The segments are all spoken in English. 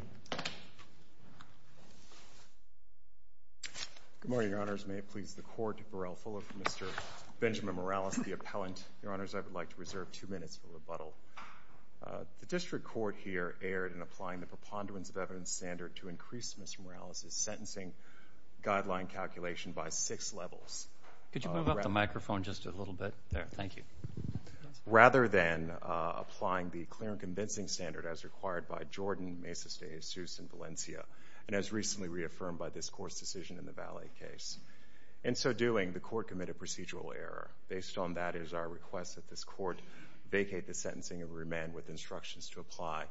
The District Court here erred in applying the preponderance of evidence standard to increase Mr. Morales' sentencing guideline calculation by six levels, rather than applying the clear and convincing standard as required by Jordan, Mesa State, ASUS, and Valencia, and as recently reaffirmed by this Court's decision in the Valley case. In so doing, the Court committed procedural error. Based on that is our request that this Court vacate the sentencing and remain with instructions to apply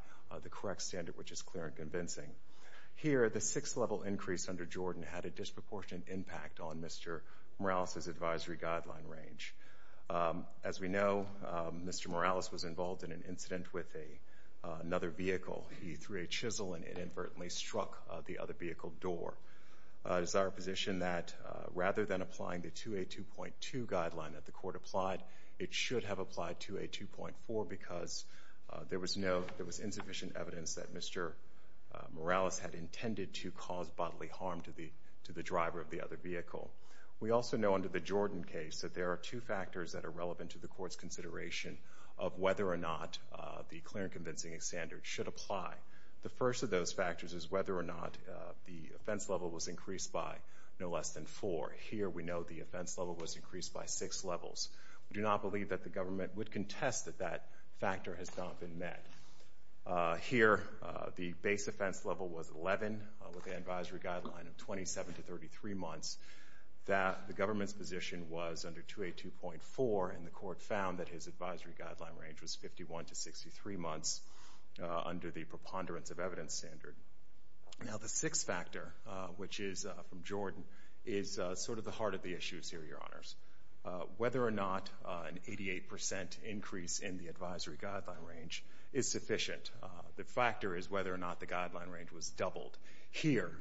the correct standard, which is clear and convincing. Here, the six-level increase under Jordan had a disproportionate impact on Mr. Morales' advisory guideline range. As we know, Mr. Morales was involved in an incident with another vehicle. He threw a chisel and it inadvertently struck the other vehicle door. It is our position that rather than applying the 2A2.2 guideline that the Court applied, it should have applied 2A2.4 because there was insufficient evidence that Mr. Morales had intended to cause bodily harm to the driver of the other vehicle. We also know under the Jordan case that there are two factors that are relevant to the Court's clear and convincing standard should apply. The first of those factors is whether or not the offense level was increased by no less than four. Here, we know the offense level was increased by six levels. We do not believe that the government would contest that that factor has not been met. Here, the base offense level was 11 with an advisory guideline of 27 to 33 months. The government's position was under 2A2.4, and the Court found that his advisory guideline range was 51 to 63 months under the preponderance of evidence standard. Now, the sixth factor, which is from Jordan, is sort of the heart of the issues here, Your Honors. Whether or not an 88% increase in the advisory guideline range is sufficient. The factor is whether or not the guideline range was doubled. Here,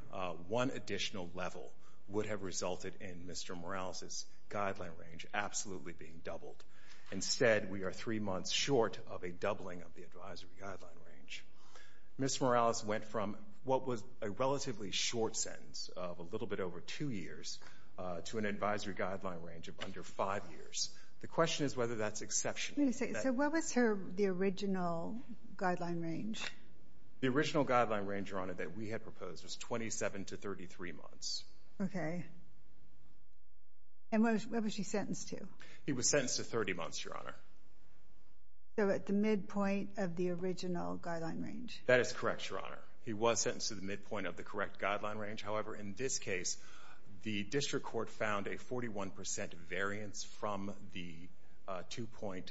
one additional level would have resulted in Mr. Morales' guideline range absolutely being doubled. Instead, we are three months short of a doubling of the advisory guideline range. Ms. Morales went from what was a relatively short sentence of a little bit over two years to an advisory guideline range of under five years. The question is whether that's exceptional. So what was her, the original guideline range? The original guideline range, Your Honor, that we had proposed was 27 to 33 months. Okay. And what was she sentenced to? He was sentenced to 30 months, Your Honor. So at the midpoint of the original guideline range? That is correct, Your Honor. He was sentenced to the midpoint of the correct guideline range. However, in this case, the District Court found a 41% variance from the 2.2.4,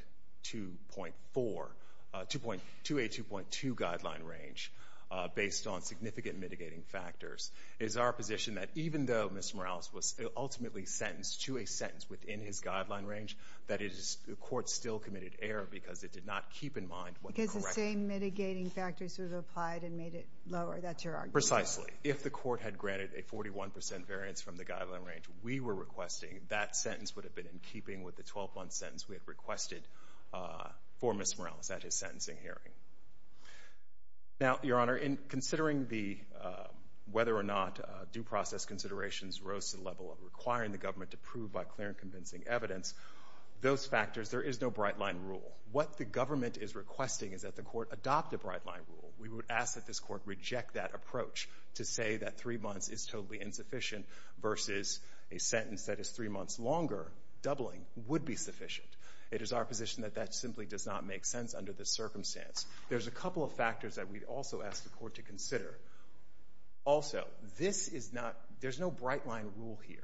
2.2, a 2.2 guideline range based on significant mitigating factors. It is our position that even though Mr. Morales was ultimately sentenced to a sentence within his guideline range, that it is, the Court still committed error because it did not keep in mind what was correct. Because the same mitigating factors were applied and made it lower. That's your argument? Precisely. If the Court had granted a 41% variance from the guideline range we were requesting, that sentence would have been in keeping with the 12-month sentence we had requested for Ms. Morales at his sentencing hearing. Now, Your Honor, in considering the, whether or not due process considerations rose to the level of requiring the government to prove by clear and convincing evidence, those factors, there is no bright-line rule. What the government is requesting is that the Court adopt a bright-line rule. We would ask that this Court reject that approach to say that three months is totally insufficient versus a sentence that is three months longer doubling would be sufficient. It is our position that that simply does not make sense under this circumstance. There's a couple of factors that we also ask the Court to consider. Also, this is not, there's no bright-line rule here.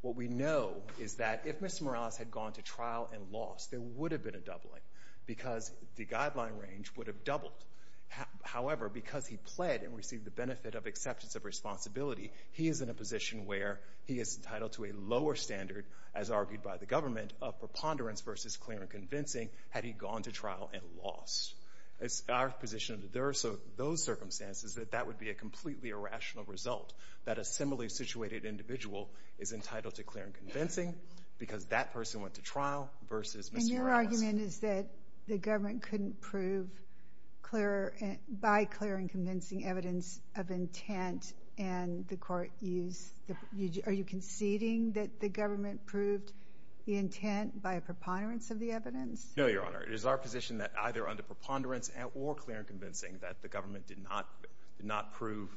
What we know is that if Mr. Morales had gone to trial and lost, there would have been a doubling because the benefit of acceptance of responsibility. He is in a position where he is entitled to a lower standard, as argued by the government, of preponderance versus clear and convincing had he gone to trial and lost. It's our position that there are those circumstances that that would be a completely irrational result. That a similarly situated individual is entitled to clear and convincing because that person went to trial versus Mr. Morales. The argument is that the government couldn't prove clear, by clear and convincing evidence of intent and the Court used, are you conceding that the government proved the intent by preponderance of the evidence? No, Your Honor. It is our position that either under preponderance or clear and convincing that the government did not prove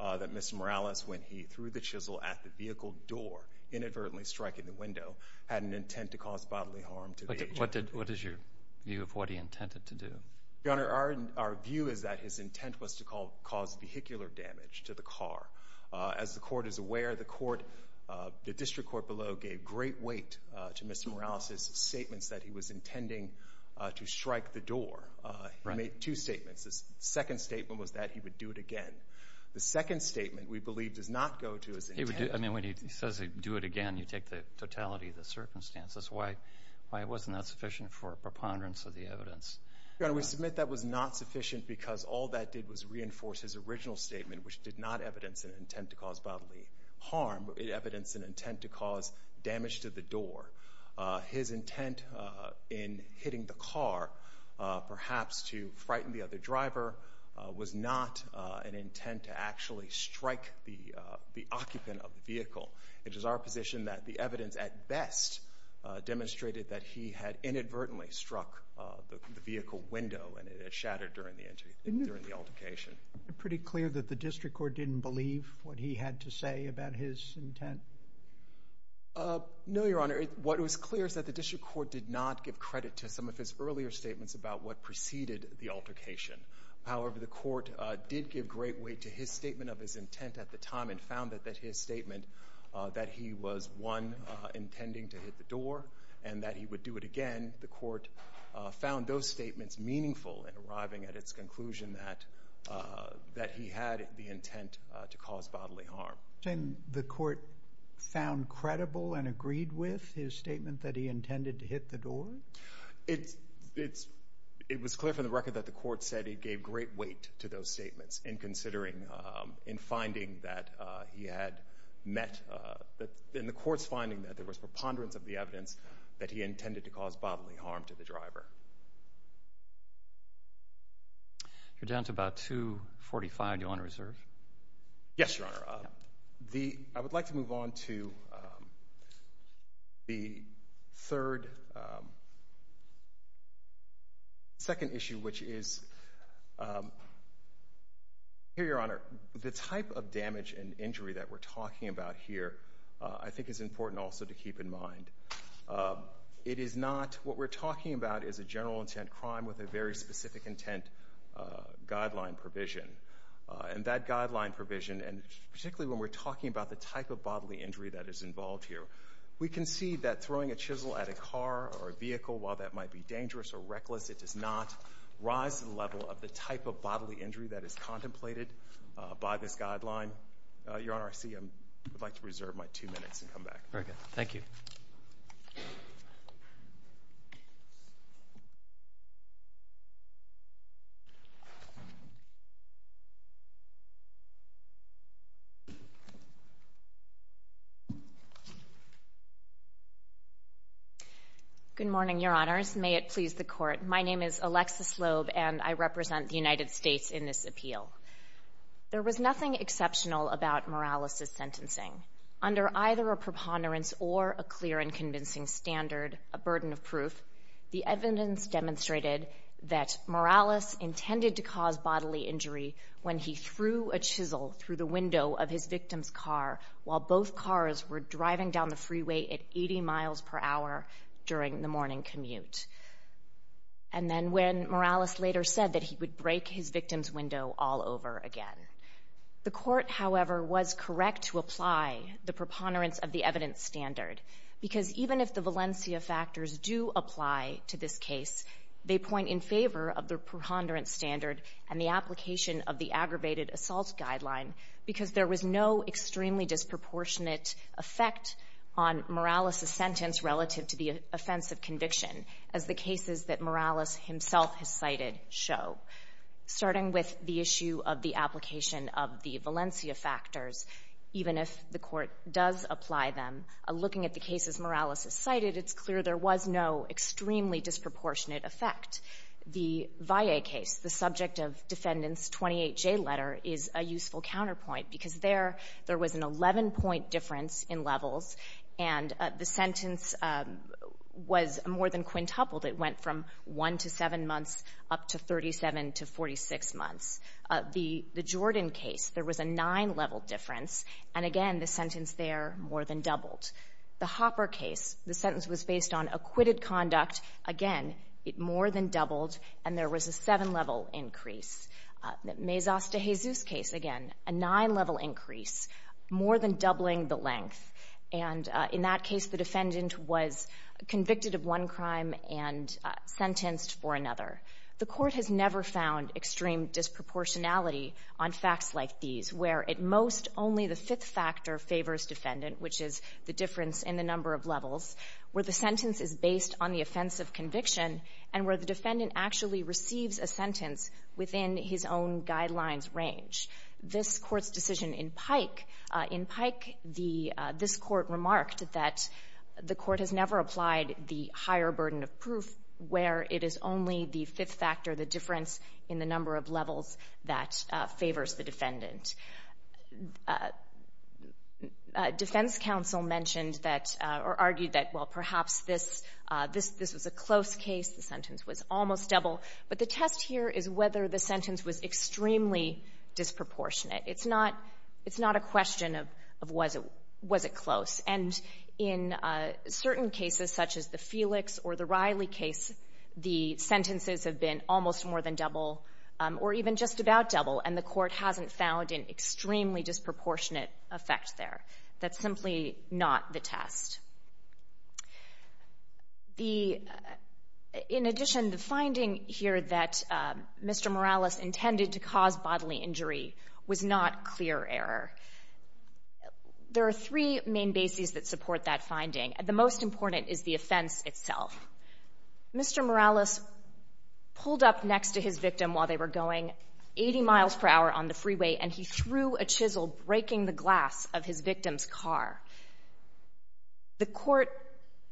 that Mr. Morales, when he threw the chisel at the vehicle door, inadvertently striking the window, had an intent to cause bodily harm to the agent. What is your view of what he intended to do? Your Honor, our view is that his intent was to cause vehicular damage to the car. As the Court is aware, the District Court below gave great weight to Mr. Morales' statements that he was intending to strike the door. He made two statements. The second statement was that he would do it again. The second statement, we believe, does not go to his intent. I mean, when he says he'd do it again, you take the totality of the circumstances. Why wasn't that sufficient for preponderance of the evidence? Your Honor, we submit that was not sufficient because all that did was reinforce his original statement, which did not evidence an intent to cause bodily harm. It evidenced an intent to cause damage to the door. His intent in hitting the car, perhaps to frighten the other driver, was not an intent to actually strike the occupant of the vehicle. It is our position that the evidence, at best, demonstrated that he had inadvertently struck the vehicle window and it had shattered during the altercation. Pretty clear that the District Court didn't believe what he had to say about his intent? No, Your Honor. What was clear is that the District Court did not give credit to some of his earlier statements about what preceded the altercation. However, the Court did give great weight to his statement of his intent at the time and found that his statement that he was, one, intending to hit the door and that he would do it again, the Court found those statements meaningful in arriving at its conclusion that he had the intent to cause bodily harm. And the Court found credible and agreed with his statement that he intended to hit the door? It was clear from the record that the Court said he gave great weight to those statements in considering, in finding that he had met, in the Court's finding that there was preponderance of the evidence that he intended to cause bodily harm to the driver. You're down to about 2.45. Do you want to reserve? Yes, Your Honor. I would like to move on to the third, second issue, which is, here, Your Honor, the type of damage and injury that we're talking about here I think is important also to keep in mind. It is not, what we're talking about is a general intent crime with a very specific intent guideline provision. And that guideline provision, and particularly when we're talking about the type of bodily injury that is involved here, we can see that throwing a chisel at a car or a vehicle, while that might be dangerous or reckless, it does not rise to the level of the type of bodily injury that is contemplated by this guideline. Your Honor, I see I would like to reserve my two minutes and come back. Very good. Thank you. Slobe. Good morning, Your Honors. May it please the Court. My name is Alexis Slobe, and I represent the United States in this appeal. There was nothing exceptional about Morales's sentencing. Under either a preponderance or a clear and convincing standard, a burden of proof, the evidence demonstrated that Morales intended to cause bodily injury when he threw a chisel through the window of his victim's car while both cars were driving down the freeway at 80 miles per hour during the morning commute. And then when Morales later said that he would break his victim's window all over again. The Court, however, was correct to apply the preponderance of the evidence standard, because even if the Valencia factors do apply to this case, they point in favor of the preponderance standard and the application of the aggravated assault guideline, because there was no extremely disproportionate effect on Morales's sentence relative to the offense of conviction, as the cases that Morales himself has cited show. Starting with the issue of the application of the Valencia factors, even if the Court does apply them, looking at the cases Morales has cited, it's clear there was no extremely is a useful counterpoint, because there, there was an 11-point difference in levels, and the sentence was more than quintupled. It went from 1 to 7 months up to 37 to 46 months. The Jordan case, there was a 9-level difference, and again, the sentence there more than doubled. The Hopper case, the sentence was based on acquitted conduct. Again, it more than doubled, and there was a 7-level increase. The Mezos de Jesus case, again, a 9-level increase, more than doubling the length. And in that case, the defendant was convicted of one crime and sentenced for another. The Court has never found extreme disproportionality on facts like these, where at most, only the fifth factor favors defendant, which is the difference in the number of levels, where the sentence is based on the offense of conviction, and where the defendant actually receives a sentence within his own guidelines' range. This Court's decision in Pike, in Pike, the — this Court remarked that the Court has never applied the higher burden of proof, where it is only the fifth factor, the difference in the number of levels, that favors the defendant. Defense counsel mentioned that — or argued that, well, perhaps this — this was a close case. The sentence was almost double. But the test here is whether the sentence was extremely disproportionate. It's not — it's not a question of was it — was it close. And in certain cases, such as the Felix or the Riley case, the sentences have been almost more than double or even just about double, and the Court hasn't found an extremely disproportionate effect there. That's simply not the test. The — in addition, the finding here that Mr. Morales intended to cause bodily injury was not clear error. There are three main bases that support that finding, and the most important is the offense itself. Mr. Morales pulled up next to his victim while they were going 80 miles per hour on the freeway, and he threw a chisel, breaking the glass of his victim's car. The Court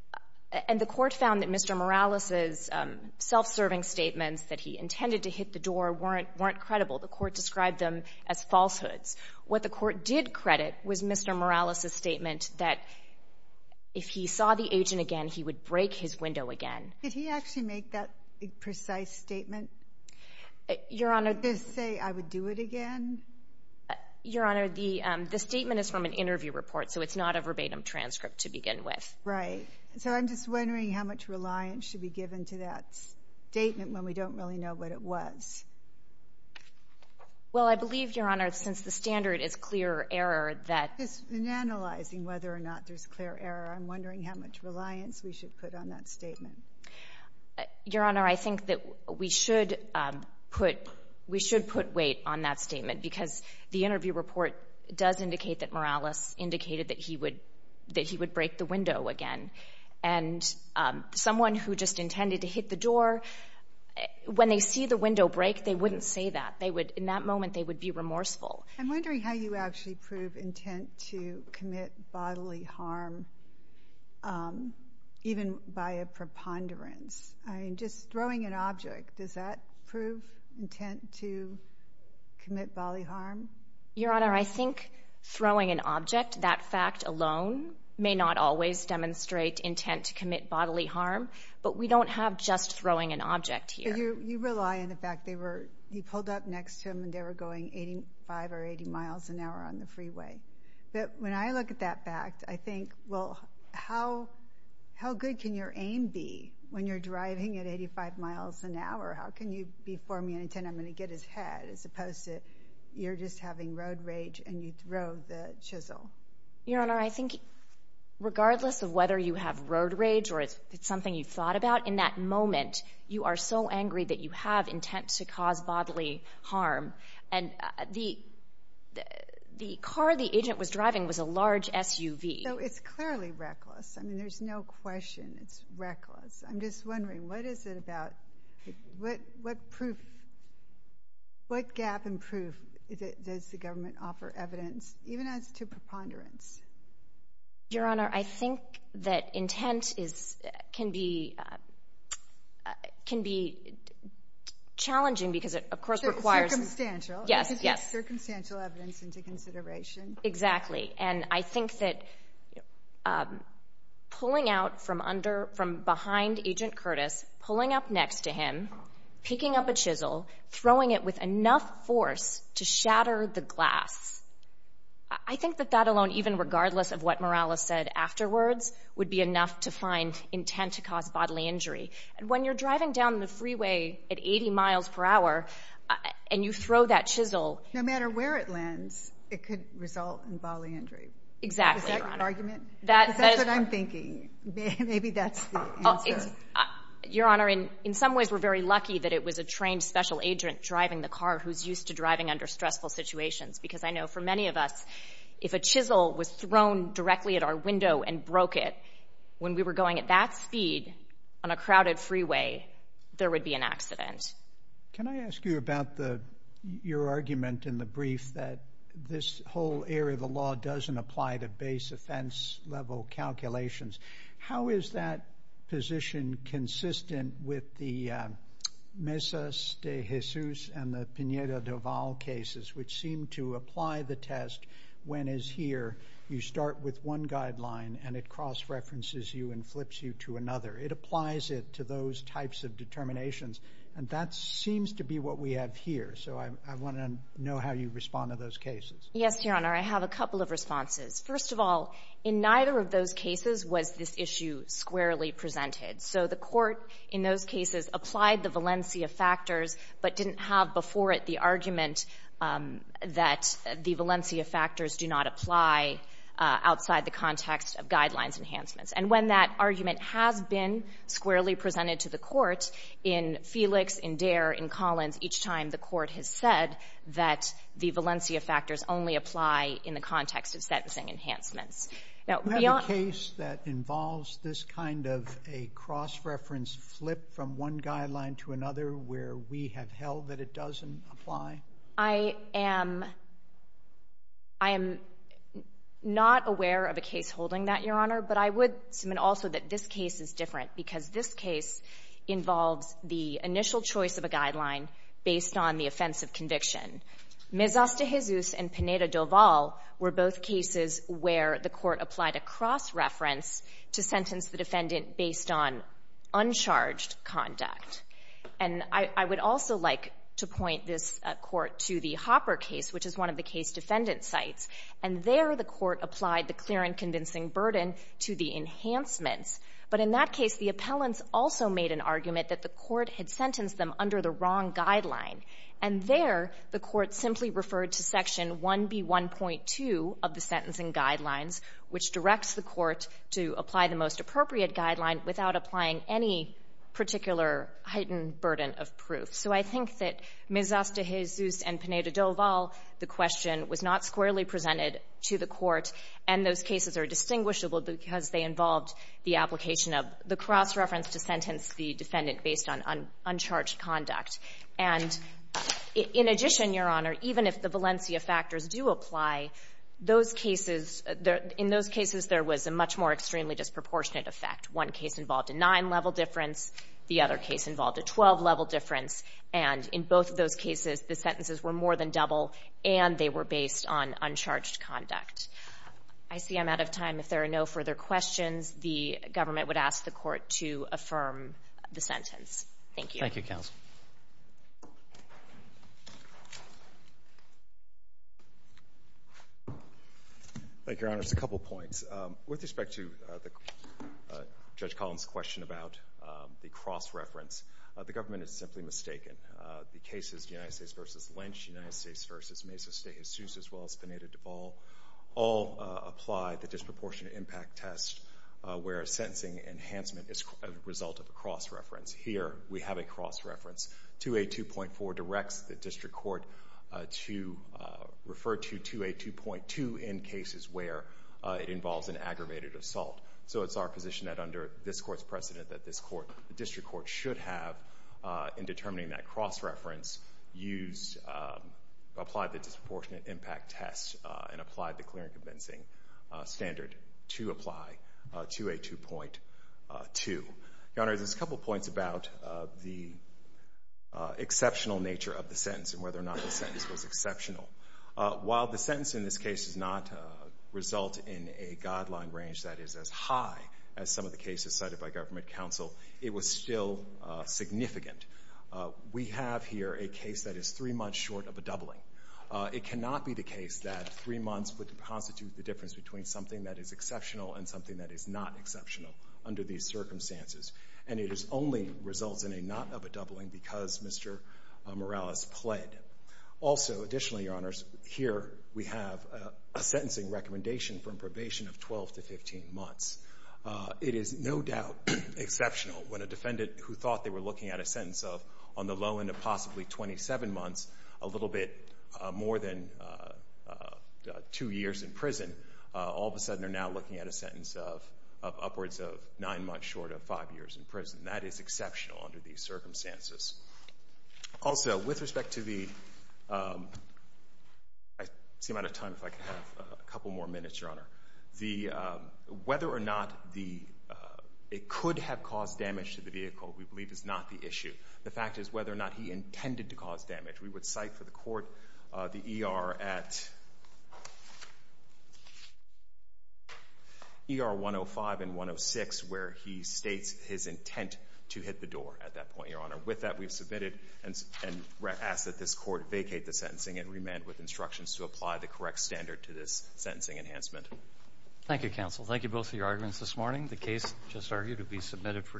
— and the Court found that Mr. Morales' self-serving statements that he intended to hit the door weren't — weren't credible. The Court described them as falsehoods. What the Court did credit was Mr. Morales' statement that if he saw the agent again, he would break his window again. Did he actually make that precise statement? Your Honor — Did this say, I would do it again? Your Honor, the — the statement is from an interview report, so it's not a verbatim transcript to begin with. Right. So I'm just wondering how much reliance should be given to that statement when we don't really know what it was. Well, I believe, Your Honor, since the standard is clear error, that — In analyzing whether or not there's clear error, I'm wondering how much reliance we should put on that statement. Your Honor, I think that we should put — we should put weight on that statement, because the interview report does indicate that Morales indicated that he would — that he would break the window again. And someone who just intended to hit the door, when they see the window break, they wouldn't say that. They would — in that moment, they would be remorseful. I'm wondering how you actually prove intent to commit bodily harm, even by a preponderance. I mean, just throwing an object, does that prove intent to commit bodily harm? Your Honor, I think throwing an object, that fact alone, may not always demonstrate intent to commit bodily harm, but we don't have just throwing an object here. Well, you rely on the fact they were — you pulled up next to him, and they were going 85 or 80 miles an hour on the freeway. But when I look at that fact, I think, well, how — how good can your aim be when you're driving at 85 miles an hour? How can you be formulating, I'm going to get his head, as opposed to you're just having road rage and you throw the chisel? Your Honor, I think regardless of whether you have road rage or it's something you've thought about, in that moment, you are so angry that you have intent to cause bodily harm. And the — the car the agent was driving was a large SUV. So it's clearly reckless. I mean, there's no question it's reckless. I'm just wondering, what is it about — what proof — what gap in proof does the government offer evidence, even as to preponderance? Your Honor, I think that intent is — can be — can be challenging because it, of course, requires — Circumstantial. Yes, yes. It takes circumstantial evidence into consideration. Exactly. And I think that pulling out from under — from behind Agent Curtis, pulling up next to him, picking up a chisel, throwing it with enough force to shatter the glass, I think that that alone, even regardless of what Morales said afterwards, would be enough to find intent to cause bodily injury. And when you're driving down the freeway at 80 miles per hour and you throw that chisel — No matter where it lands, it could result in bodily injury. Exactly, Your Honor. Is that your argument? That — Because that's what I'm thinking. Maybe that's the answer. It's — Your Honor, in some ways, we're very lucky that it was a trained special agent driving the car who's used to driving under stressful situations because I know for many of us, if a chisel was thrown directly at our window and broke it, when we were going at that speed on a crowded freeway, there would be an accident. Can I ask you about the — your argument in the brief that this whole area of the law doesn't apply to base offense-level calculations? How is that position consistent with the Mesas de Jesus and the Pineda do Val cases, which seem to apply the test when, as here, you start with one guideline and it cross-references you and flips you to another? It applies it to those types of determinations, and that seems to be what we have here. So I want to know how you respond to those cases. Yes, Your Honor. I have a couple of responses. First of all, in neither of those cases was this issue squarely presented. So the Court, in those cases, applied the Valencia factors but didn't have before it the argument that the Valencia factors do not apply outside the context of guidelines enhancements. And when that argument has been squarely presented to the Court, in Felix, in Dare, in Collins, each time the Court has said that the Valencia factors only apply in the context of sentencing enhancements. Now, beyond — Do you have a case that involves this kind of a cross-reference flip from one guideline to another where we have held that it doesn't apply? I am — I am not aware of a case holding that, Your Honor. But I would submit also that this case is different because this case involves the initial choice of a guideline based on the offense of conviction. Mezastahizuz and Pineda-Doval were both cases where the Court applied a cross-reference to sentence the defendant based on uncharged conduct. And I would also like to point this Court to the Hopper case, which is one of the case defendant sites. And there, the Court applied the clear and convincing burden to the enhancements. But in that case, the appellants also made an argument that the Court had sentenced them under the wrong guideline. And there, the Court simply referred to Section 1B1.2 of the sentencing guidelines, which directs the Court to apply the most appropriate guideline without applying any particular heightened burden of proof. So I think that Mezastahizuz and Pineda-Doval, the question, was not squarely presented to the Court. And those cases are distinguishable because they involved the application of the cross-reference to sentence the defendant based on uncharged conduct. And in addition, Your Honor, even if the Valencia factors do apply, those cases — in those cases, there was a much more extremely disproportionate effect. One case involved a nine-level difference. The other case involved a 12-level difference. And in both of those cases, the sentences were more than double, and they were based on uncharged conduct. I see I'm out of time. If there are no further questions, the government would ask the Court to affirm the sentence. Thank you. Thank you, counsel. Thank you, Your Honor. Just a couple points. With respect to Judge Collins' question about the cross-reference, the government is simply mistaken. The cases, United States v. Lynch, United States v. Mezastahizuz, as well as Pineda-Doval, all apply the disproportionate impact test where a sentencing enhancement is a result of a cross-reference. Here, we have a cross-reference. 2A2.4 directs the district court to refer to 2A2.2 in cases where it involves an aggravated assault. So it's our position that, under this Court's precedent, that this Court, the district court should have, in determining that cross-reference, used — applied the disproportionate impact test and applied the clear and convincing standard to apply 2A2.2. Your Honor, there's a couple points about the exceptional nature of the sentence and whether or not the sentence was exceptional. While the sentence in this case does not result in a guideline range that is as high as some of the cases cited by government counsel, it was still significant. We have here a case that is three months short of a doubling. It cannot be the case that three months would constitute the difference between something that is exceptional and something that is not exceptional under these circumstances. And it only results in a not-of-a-doubling because Mr. Morales pled. Also, additionally, Your Honors, here we have a sentencing recommendation from probation of 12 to 15 months. It is no doubt exceptional when a defendant who thought they were looking at a sentence of, on the low end of possibly 27 months, a little bit more than two years in prison, all of a sudden are now looking at a sentence of upwards of nine months short of five years in prison. That is exceptional under these circumstances. Also, with respect to the—I seem out of time. If I could have a couple more minutes, Your Honor. Whether or not it could have caused damage to the vehicle we believe is not the issue. The fact is whether or not he intended to cause damage. We would cite for the court the ER at—ER 105 and 106 where he states his intent to hit the door at that point, Your Honor. With that, we've submitted and ask that this court vacate the sentencing and remand with instructions to apply the correct standard to this sentencing enhancement. Thank you, counsel. Thank you both for your arguments this morning. The case just argued to be submitted for decision.